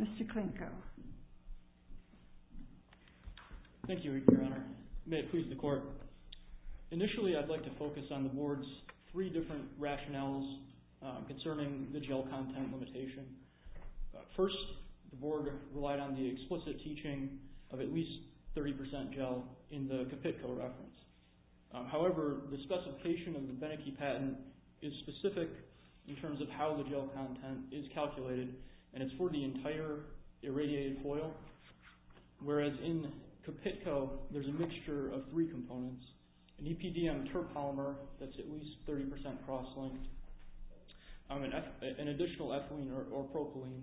Mr. Klinko. Thank you, Your Honor. May it please the Court. Initially, I'd like to focus on the Board's three different rationales concerning the jail content limitation. First, the Board relied on the explicit teaching of at least 30% gel in the Kapitko reference. However, the specification of the Benecke patent is specific in terms of how the gel content is calculated and it's for the entire irradiated foil. Whereas in Kapitko, there's a mixture of three components. An EPDM terpolymer that's at least 30% cross-linked, an additional ethylene or propylene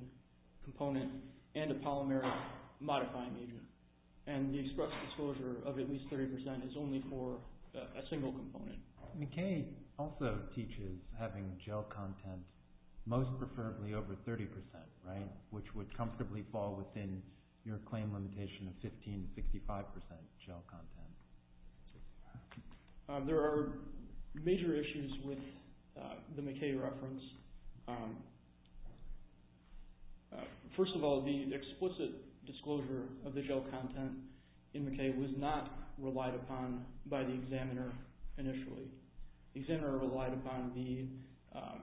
component, and a polymeric modifying agent. And the express disclosure of at least 30% is only for a single component. McKay also teaches having gel content most preferably over 30%, right, which would comfortably fall within your claim limitation of 15-65% gel content. First of all, the explicit disclosure of the gel content in McKay was not relied upon by the examiner initially. The examiner relied upon the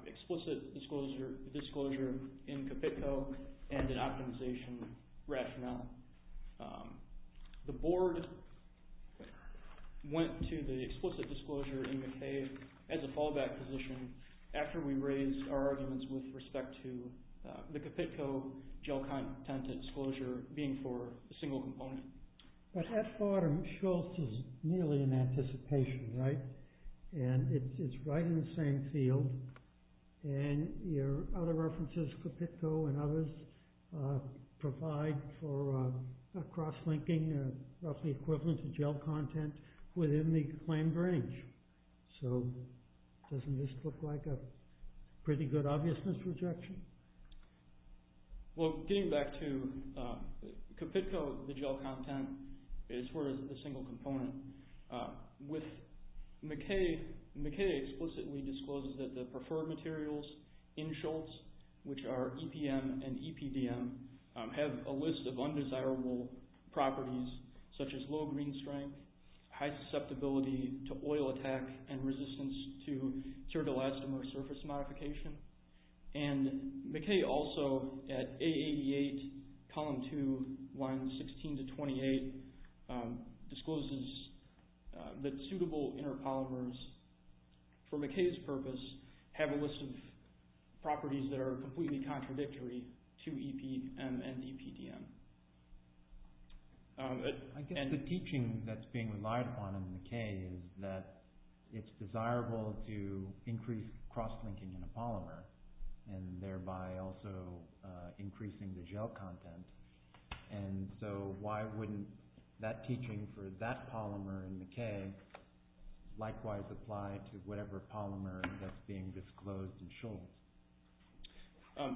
explicit disclosure in Kapitko and an optimization rationale. The Board went to the explicit disclosure in McKay as a fallback position after we raised our arguments with respect to the Kapitko gel content disclosure being for a single component. But at bottom, Shultz is nearly in anticipation, right? And it's right in the same field. And your other references, Kapitko and others, provide for a cross-linking roughly equivalent to gel content within the claimed range. So doesn't this look like a pretty good obviousness rejection? Well, getting back to Kapitko, the gel content is for a single component. McKay explicitly discloses that the preferred materials in Shultz, which are EPM and EPDM properties, such as low green strength, high susceptibility to oil attack, and resistance to ceratolastomer surface modification. And McKay also, at A88, column 2, lines 16 to 28, discloses that suitable inner polymers, for McKay's purpose, have a list of properties that are completely contradictory to EPM and EPDM. I guess the teaching that's being relied upon in McKay is that it's desirable to increase cross-linking in a polymer, and thereby also increasing the gel content. And so why wouldn't that teaching for that polymer in McKay likewise apply to whatever polymer that's being disclosed in Shultz?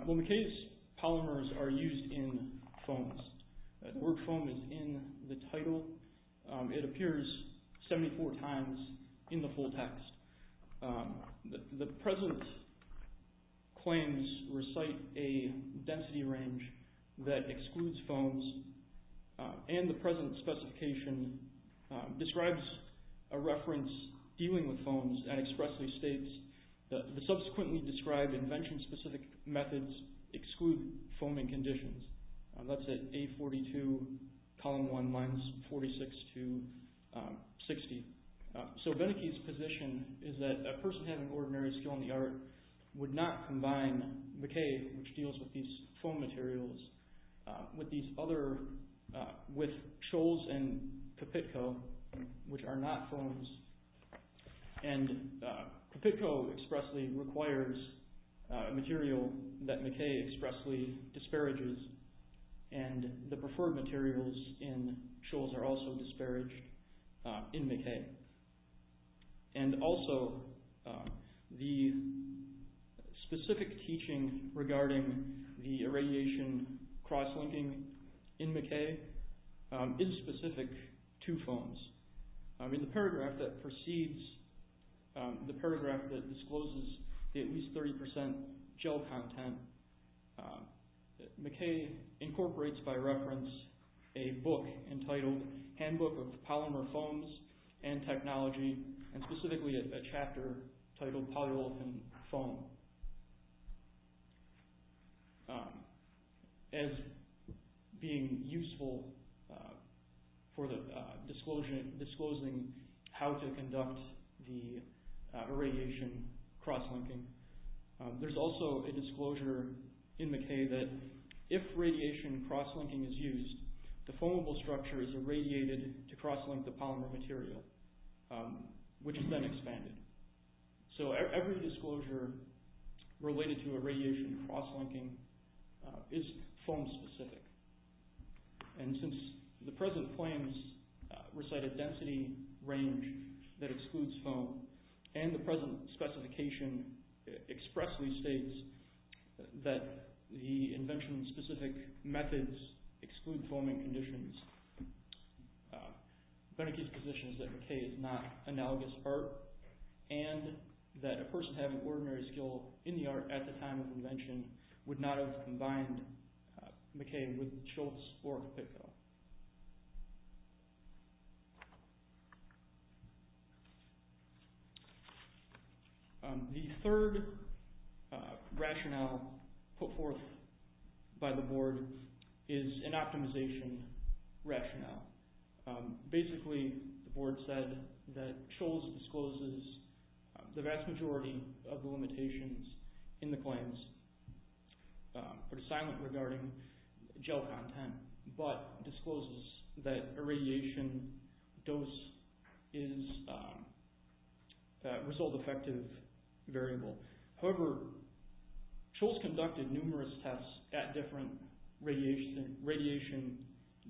Well, McKay's polymers are used in foams. The word foam is in the title. It appears 74 times in the full text. The present claims recite a density range that excludes foams, and the present specification describes a reference dealing with foams and expressly states the subsequently described invention-specific methods exclude foaming conditions. That's at A42, column 1, lines 46 to 60. So Beneke's position is that a person having ordinary skill in the art would not combine McKay, which deals with these foam materials, with Shultz and Pipitco, which are not foams. And Pipitco expressly requires material that McKay expressly disparages, and the preferred materials in Shultz are also disparaged in McKay. And also, the specific teaching regarding the irradiation cross-linking in McKay is specific to foams. In the paragraph that discloses at least 30% gel content, McKay incorporates by reference a book entitled Handbook of Polymer Foams and Technology, and specifically a chapter titled Polyolefin Foam. As being useful for disclosing how to conduct the irradiation cross-linking, there's also a disclosure in McKay that if radiation cross-linking is used, the foamable structure is irradiated to cross-link the polymer material, which is then expanded. So every disclosure related to irradiation cross-linking is foam-specific. And since the present claims recite a density range that excludes foam, and the present specification expressly states that the invention-specific methods exclude foaming conditions, Beneke's position is that McKay is not analogous art. And that a person having ordinary skill in the art at the time of invention would not have combined McKay with Shultz or Pickel. The third rationale put forth by the board is an optimization rationale. Basically, the board said that Shultz discloses the vast majority of the limitations in the claims, but is silent regarding gel content, but discloses that irradiation dose is a result-effective variable. However, Shultz conducted numerous tests at different radiation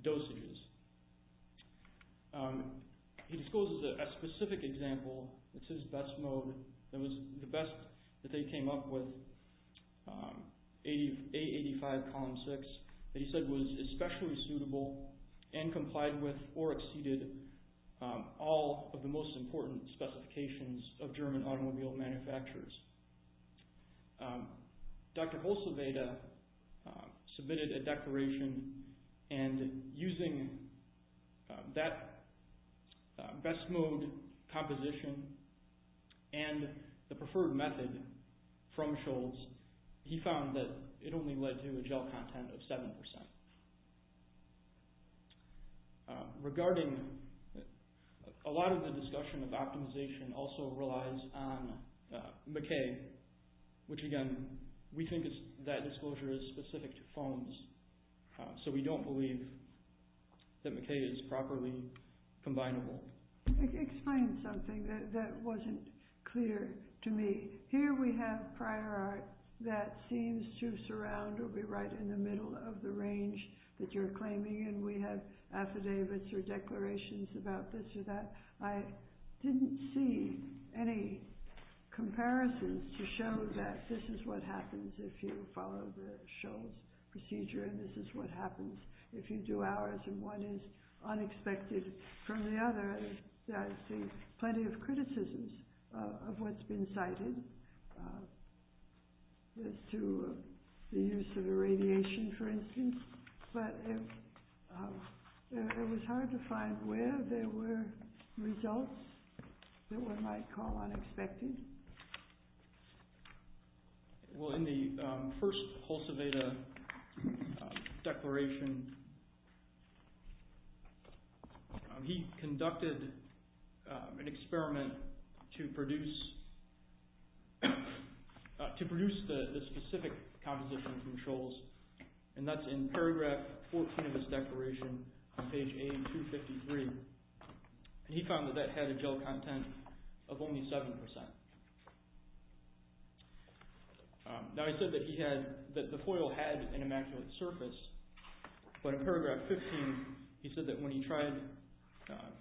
dosages. He discloses a specific example. It's his best mode. It was the best that they came up with, A85 column six, that he said was especially suitable and complied with or exceeded all of the most important specifications of German automobile manufacturers. Dr. Bulsaveda submitted a declaration, and using that best mode composition and the preferred method from Shultz, he found that it only led to a gel content of 7%. A lot of the discussion of optimization also relies on McKay, which again, we think that disclosure is specific to foams, so we don't believe that McKay is properly combinable. Can you explain something that wasn't clear to me? Here we have prior art that seems to surround or be right in the middle of the range that you're claiming, and we have affidavits or declarations about this or that. I didn't see any comparisons to show that this is what happens if you follow the Shultz procedure, and this is what happens if you do ours, and one is unexpected from the other. I see plenty of criticisms of what's been cited as to the use of irradiation, for instance, but it was hard to find where there were results that one might call unexpected. In the first Bulsaveda declaration, he conducted an experiment to produce the specific composition from Shultz, and that's in paragraph 14 of his declaration on page A253. He found that that had a gel content of only 7%. Now, he said that the foil had an immaculate surface, but in paragraph 15, he said that when he tried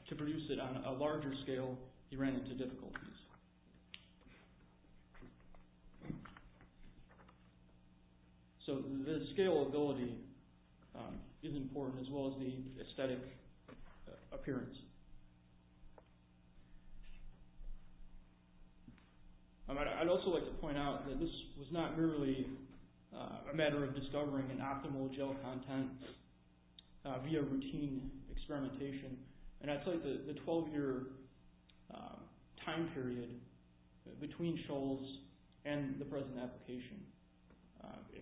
to produce it on a larger scale, he ran into difficulties. The scalability is important, as well as the aesthetic appearance. I'd also like to point out that this was not merely a matter of discovering an optimal gel content via routine experimentation, and I'd say that the 12-year time period between Shultz and the present application,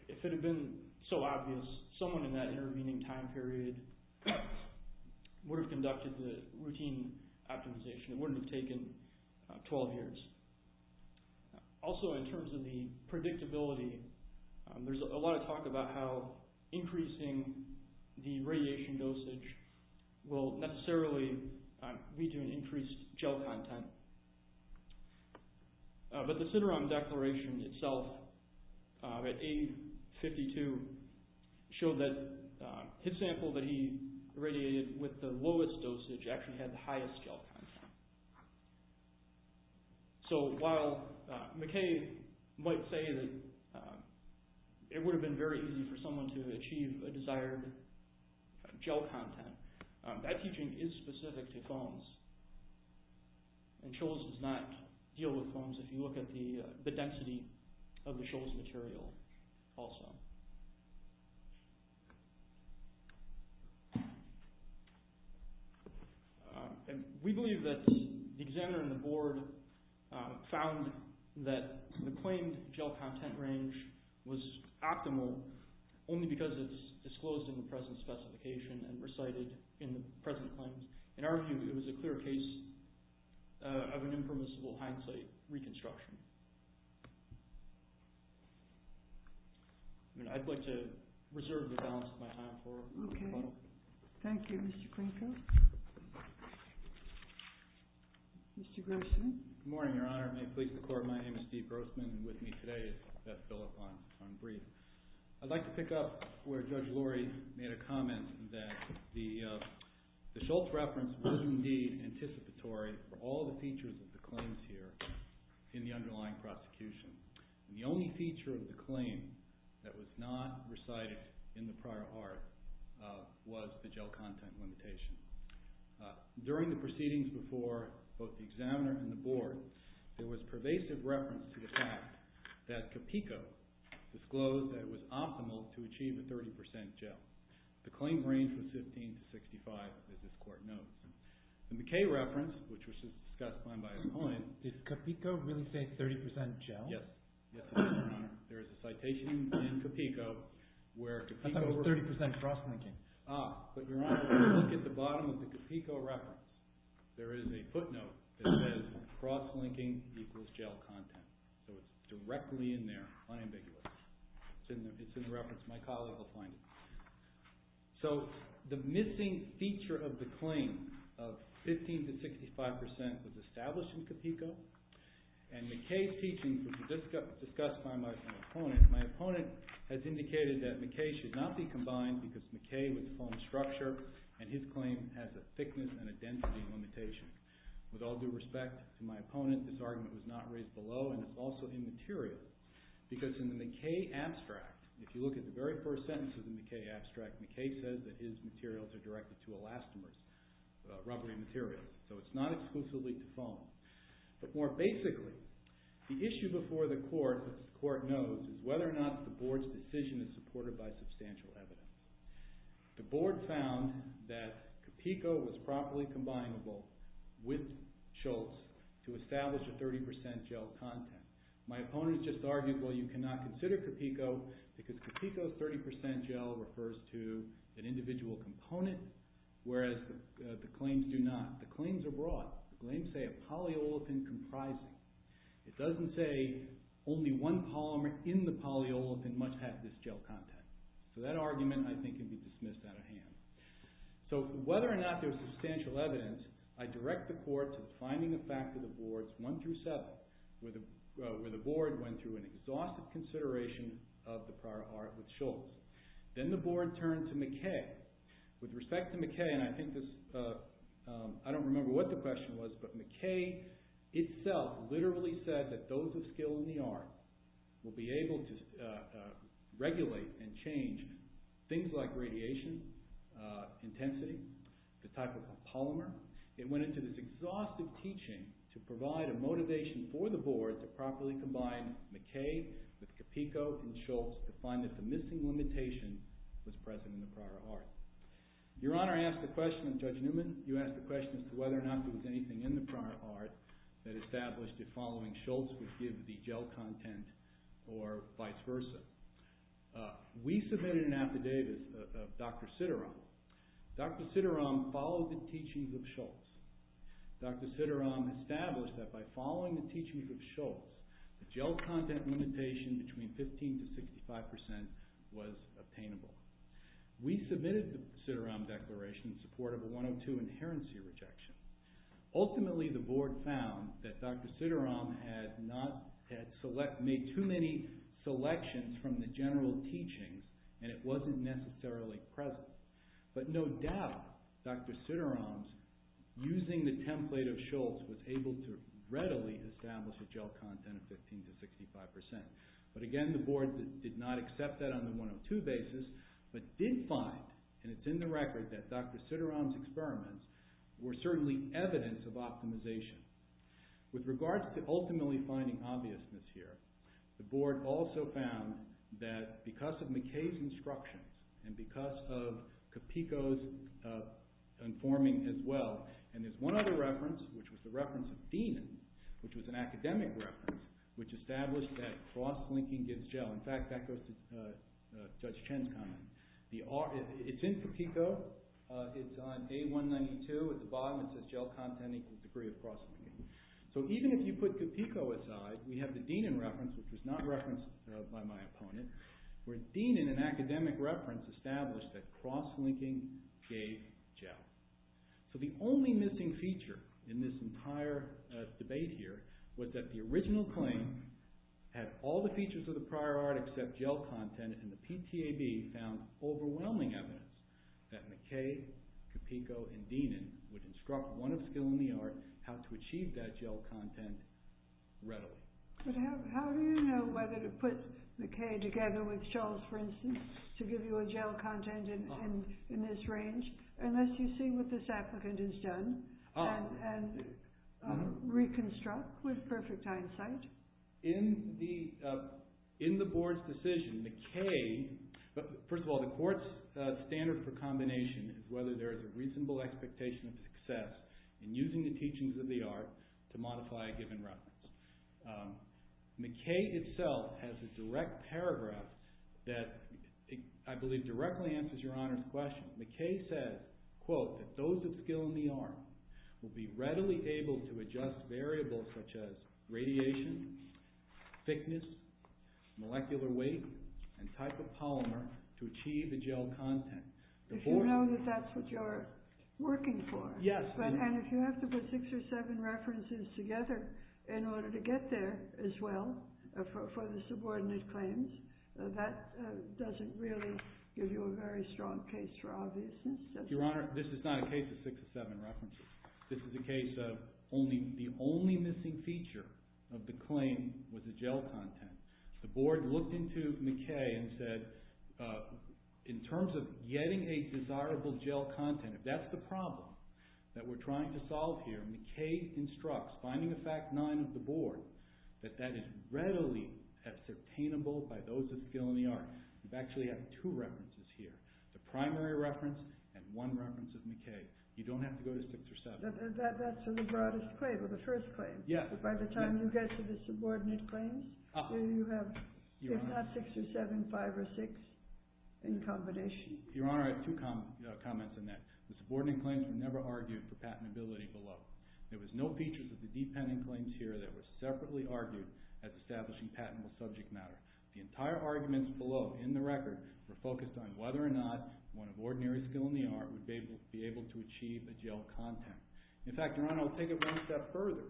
if it had been so obvious, someone in that intervening time period would have conducted the routine optimization. It wouldn't have taken 12 years. Also, in terms of the predictability, there's a lot of talk about how increasing the radiation dosage will necessarily lead to an increased gel content. The Sideron declaration itself, at age 52, showed that his sample that he irradiated with the lowest dosage actually had the highest gel content. So, while McKay might say that it would have been very easy for someone to achieve a desired gel content, that teaching is specific to foams, and Shultz does not deal with foams if you look at the density of the Shultz material also. We believe that the examiner and the board found that the claimed gel content range was optimal only because it was disclosed in the present specification and recited in the present claims. In our view, it was a clear case of an impermissible hindsight reconstruction. I'd like to reserve the balance of my time for a moment. Thank you, Mr. Grinko. Mr. Grossman? Good morning, Your Honor. May it please the Court, my name is Steve Grossman, and with me today is Beth Phillip on brief. I'd like to pick up where Judge Lurie made a comment that the Shultz reference was indeed anticipatory for all the features of the claims here in the underlying prosecution. The only feature of the claim that was not recited in the prior art was the gel content limitation. During the proceedings before both the examiner and the board, there was pervasive reference to the fact that Capico disclosed that it was optimal to achieve a 30% gel. The claim range was 15 to 65, as this Court notes. The McKay reference, which was discussed by my opponent… Did Capico really say 30% gel? Yes, Your Honor. There is a citation in Capico where Capico… I thought it was 30% cross-linking. Ah, but Your Honor, if you look at the bottom of the Capico reference, there is a footnote that says cross-linking equals gel content. So it's directly in there, unambiguous. It's in the reference. My colleague will find it. So the missing feature of the claim of 15 to 65% was established in Capico, and McKay's teaching was discussed by my opponent. My opponent has indicated that McKay should not be combined because McKay would deform structure, and his claim has a thickness and a density limitation. With all due respect to my opponent, this argument was not raised below, and it's also immaterial. Because in the McKay abstract, if you look at the very first sentence of the McKay abstract, McKay says that his materials are directed to elastomers, rubbery materials. So it's not exclusively deformed. But more basically, the issue before the court, as the court knows, is whether or not the board's decision is supported by substantial evidence. The board found that Capico was properly combinable with Schultz to establish a 30% gel content. My opponent just argued, well, you cannot consider Capico because Capico's 30% gel refers to an individual component, whereas the claims do not. The claims are broad. The claims say a polyolefin comprising. It doesn't say only one polymer in the polyolefin must have this gel content. So that argument, I think, can be dismissed out of hand. So whether or not there's substantial evidence, I direct the court to defining the fact of the boards 1 through 7, where the board went through an exhaustive consideration of the prior art with Schultz. Then the board turned to McKay. With respect to McKay, and I don't remember what the question was, but McKay itself literally said that those of skill in the art will be able to regulate and change things like radiation intensity, the type of polymer. It went into this exhaustive teaching to provide a motivation for the board to properly combine McKay with Capico and Schultz to find that the missing limitation was present in the prior art. Your Honor asked a question of Judge Newman. You asked a question as to whether or not there was anything in the prior art that established if following Schultz would give the gel content or vice versa. We submitted an affidavit of Dr. Sidaram. Dr. Sidaram followed the teachings of Schultz. Dr. Sidaram established that by following the teachings of Schultz, the gel content limitation between 15% to 65% was obtainable. We submitted the Sidaram Declaration in support of a 102 Inherency Rejection. Ultimately, the board found that Dr. Sidaram had made too many selections from the general teachings and it wasn't necessarily present. But no doubt, Dr. Sidaram, using the template of Schultz, was able to readily establish a gel content of 15% to 65%. But again, the board did not accept that on the 102 basis, but did find, and it's in the record, that Dr. Sidaram's experiments were certainly evidence of optimization. With regards to ultimately finding obviousness here, the board also found that because of McKay's instructions and because of Capico's informing as well, and there's one other reference, which was the reference of Deenan, which was an academic reference, which established that cross-linking gives gel. In fact, that goes to Judge Chen's comment. It's in Capico. It's on A192 at the bottom. It says gel content equals degree of cross-linking. So even if you put Capico aside, we have the Deenan reference, which was not referenced by my opponent, where Deenan, an academic reference, established that cross-linking gave gel. So the only missing feature in this entire debate here was that the original claim had all the features of the prior art except gel content, and the PTAB found overwhelming evidence that McKay, Capico, and Deenan would instruct one of skill in the art how to achieve that gel content readily. How do you know whether to put McKay together with Shultz, for instance, to give you a gel content in this range, unless you see what this applicant has done and reconstruct with perfect hindsight? In the board's decision, McKay – first of all, the court's standard for combination is whether there is a reasonable expectation of success in using the teachings of the art to modify a given reference. McKay itself has a direct paragraph that I believe directly answers Your Honor's question. McKay says, quote, that those of skill in the art will be readily able to adjust variables such as radiation, thickness, molecular weight, and type of polymer to achieve a gel content. If you know that that's what you're working for, and if you have to put six or seven references together in order to get there as well for the subordinate claims, that doesn't really give you a very strong case for obviousness. Your Honor, this is not a case of six or seven references. This is a case of the only missing feature of the claim was the gel content. The board looked into McKay and said, in terms of getting a desirable gel content, if that's the problem that we're trying to solve here, McKay instructs, finding a fact nine of the board, that that is readily ascertainable by those of skill in the art. We actually have two references here, the primary reference and one reference of McKay. You don't have to go to six or seven. That's the broadest claim, or the first claim. Yes. By the time you get to the subordinate claims, you have six or seven, five or six in combination. Your Honor, I have two comments on that. The subordinate claims were never argued for patentability below. There was no features of the dependent claims here that were separately argued at establishing patentable subject matter. The entire arguments below, in the record, were focused on whether or not one of ordinary skill in the art would be able to achieve a gel content. In fact, Your Honor, I'll take it one step further.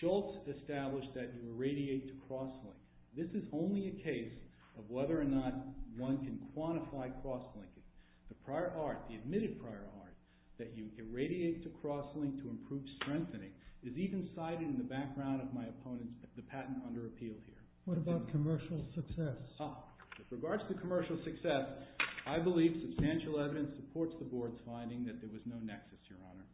Schultz established that you irradiate to cross-link. This is only a case of whether or not one can quantify cross-linking. The prior art, the admitted prior art, that you irradiate to cross-link to improve strengthening, is even cited in the background of my opponent's patent under appeal here. What about commercial success? With regards to commercial success, I believe substantial evidence supports the Board's finding that there was no nexus, Your Honor.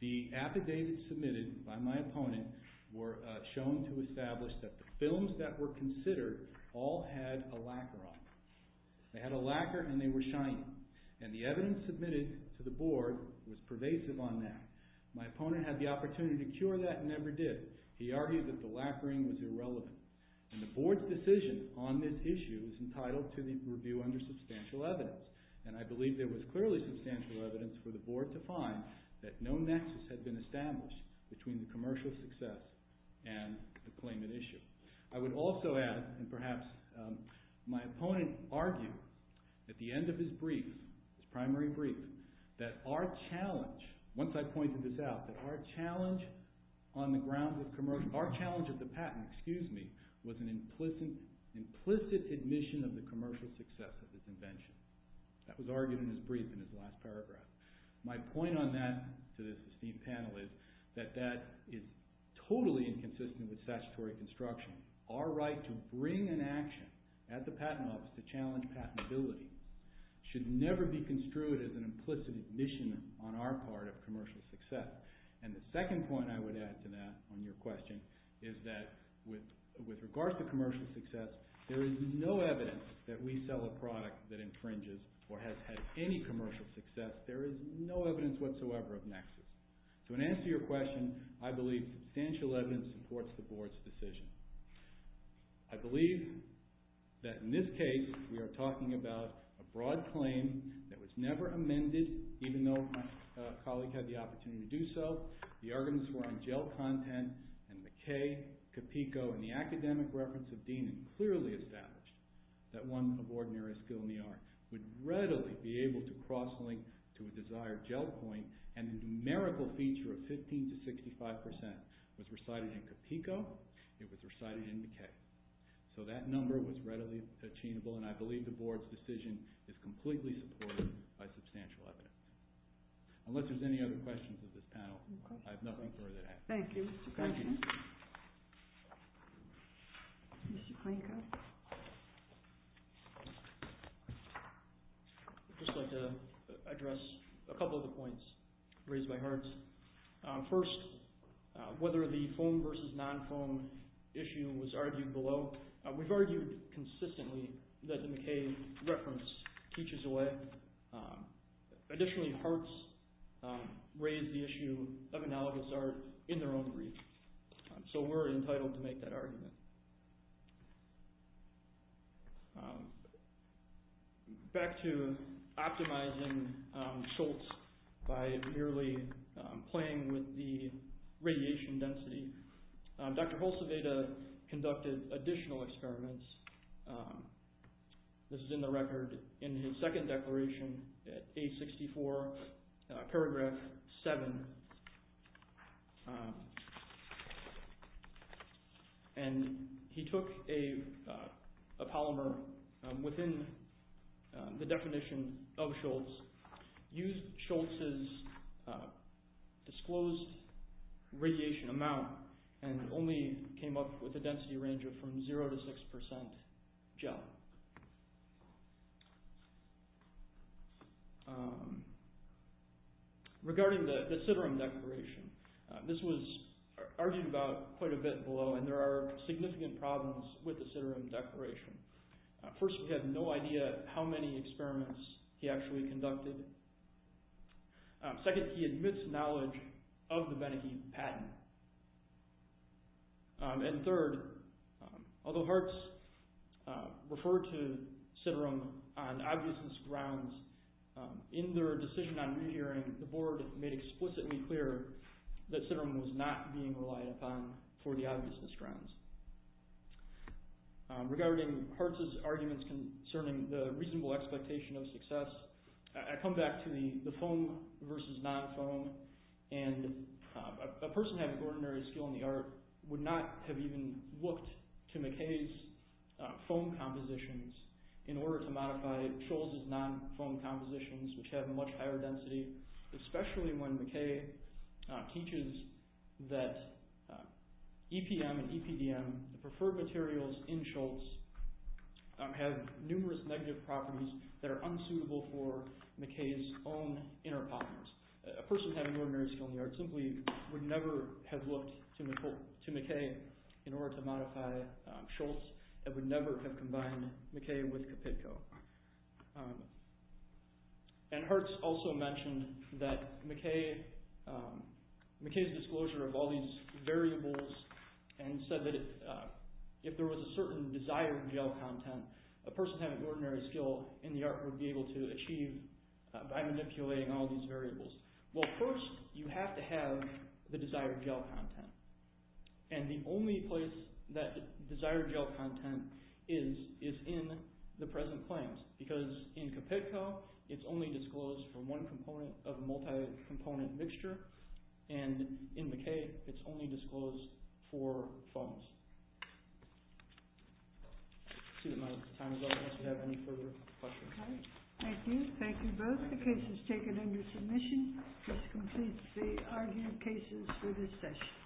The affidavits submitted by my opponent were shown to establish that the films that were considered all had a lacquer on them. They had a lacquer and they were shiny. And the evidence submitted to the Board was pervasive on that. My opponent had the opportunity to cure that and never did. He argued that the lacquering was irrelevant. And the Board's decision on this issue is entitled to review under substantial evidence. And I believe there was clearly substantial evidence for the Board to find that no nexus had been established between the commercial success and the claimant issue. I would also add, and perhaps my opponent argued at the end of his brief, his primary brief, that our challenge, once I pointed this out, that our challenge on the grounds of commercial, our challenge of the patent, excuse me, was an implicit admission of the commercial success of this invention. That was argued in his brief in his last paragraph. My point on that to this esteemed panel is that that is totally inconsistent with statutory construction. Our right to bring an action at the Patent Office to challenge patentability should never be construed as an implicit admission on our part of commercial success. And the second point I would add to that on your question is that with regards to commercial success, there is no evidence that we sell a product that infringes or has had any commercial success. There is no evidence whatsoever of nexus. So in answer to your question, I believe substantial evidence supports the Board's decision. I believe that in this case we are talking about a broad claim that was never amended, even though my colleague had the opportunity to do so. The arguments were on gel content, and McKay, Capico, and the academic reference of Deenan clearly established that one of ordinary skill in the art would readily be able to cross-link to a desired gel point. And the numerical feature of 15 to 65 percent was recited in Capico. It was recited in McKay. So that number was readily attainable, and I believe the Board's decision is completely supported by substantial evidence. Unless there's any other questions of this panel, I have nothing further to add. Thank you. Thank you. I'd just like to address a couple of the points raised by Hartz. First, whether the foam versus non-foam issue was argued below. We've argued consistently that the McKay reference teaches away. Additionally, Hartz raised the issue of analogous art in their own brief. So we're entitled to make that argument. Back to optimizing Schultz by merely playing with the radiation density. Dr. Hulseveda conducted additional experiments. This is in the record in his second declaration at A64, paragraph 7. And he took a polymer within the definition of Schultz, used Schultz's disclosed radiation amount, and only came up with a density range of from 0 to 6 percent gel. Regarding the Citarum declaration, this was argued about quite a bit below, and there are significant problems with the Citarum declaration. First, we have no idea how many experiments he actually conducted. Second, he admits knowledge of the Benneke patent. And third, although Hartz referred to Citarum on obviousness grounds, in their decision on rehearing, the board made explicitly clear that Citarum was not being relied upon for the obviousness grounds. Regarding Hartz's arguments concerning the reasonable expectation of success, I come back to the foam versus non-foam. And a person having ordinary skill in the art would not have even looked to McKay's foam compositions in order to modify Schultz's non-foam compositions, which have much higher density, especially when McKay teaches that EPM and EPDM, the preferred materials in Schultz, have numerous negative properties that are unsuitable for McKay's own inner polymers. A person having ordinary skill in the art simply would never have looked to McKay in order to modify Schultz and would never have combined McKay with Capitco. And Hartz also mentioned that McKay's disclosure of all these variables and said that if there was a certain desired gel content, a person having ordinary skill in the art would be able to achieve by manipulating all these variables. Well, first, you have to have the desired gel content. And the only place that desired gel content is is in the present claims, because in Capitco, it's only disclosed for one component of a multi-component mixture, and in McKay, it's only disclosed for foams. I see that my time is up. Do you have any further questions? Okay. Thank you. Thank you both. The case is taken under submission. This completes the argument cases for this session.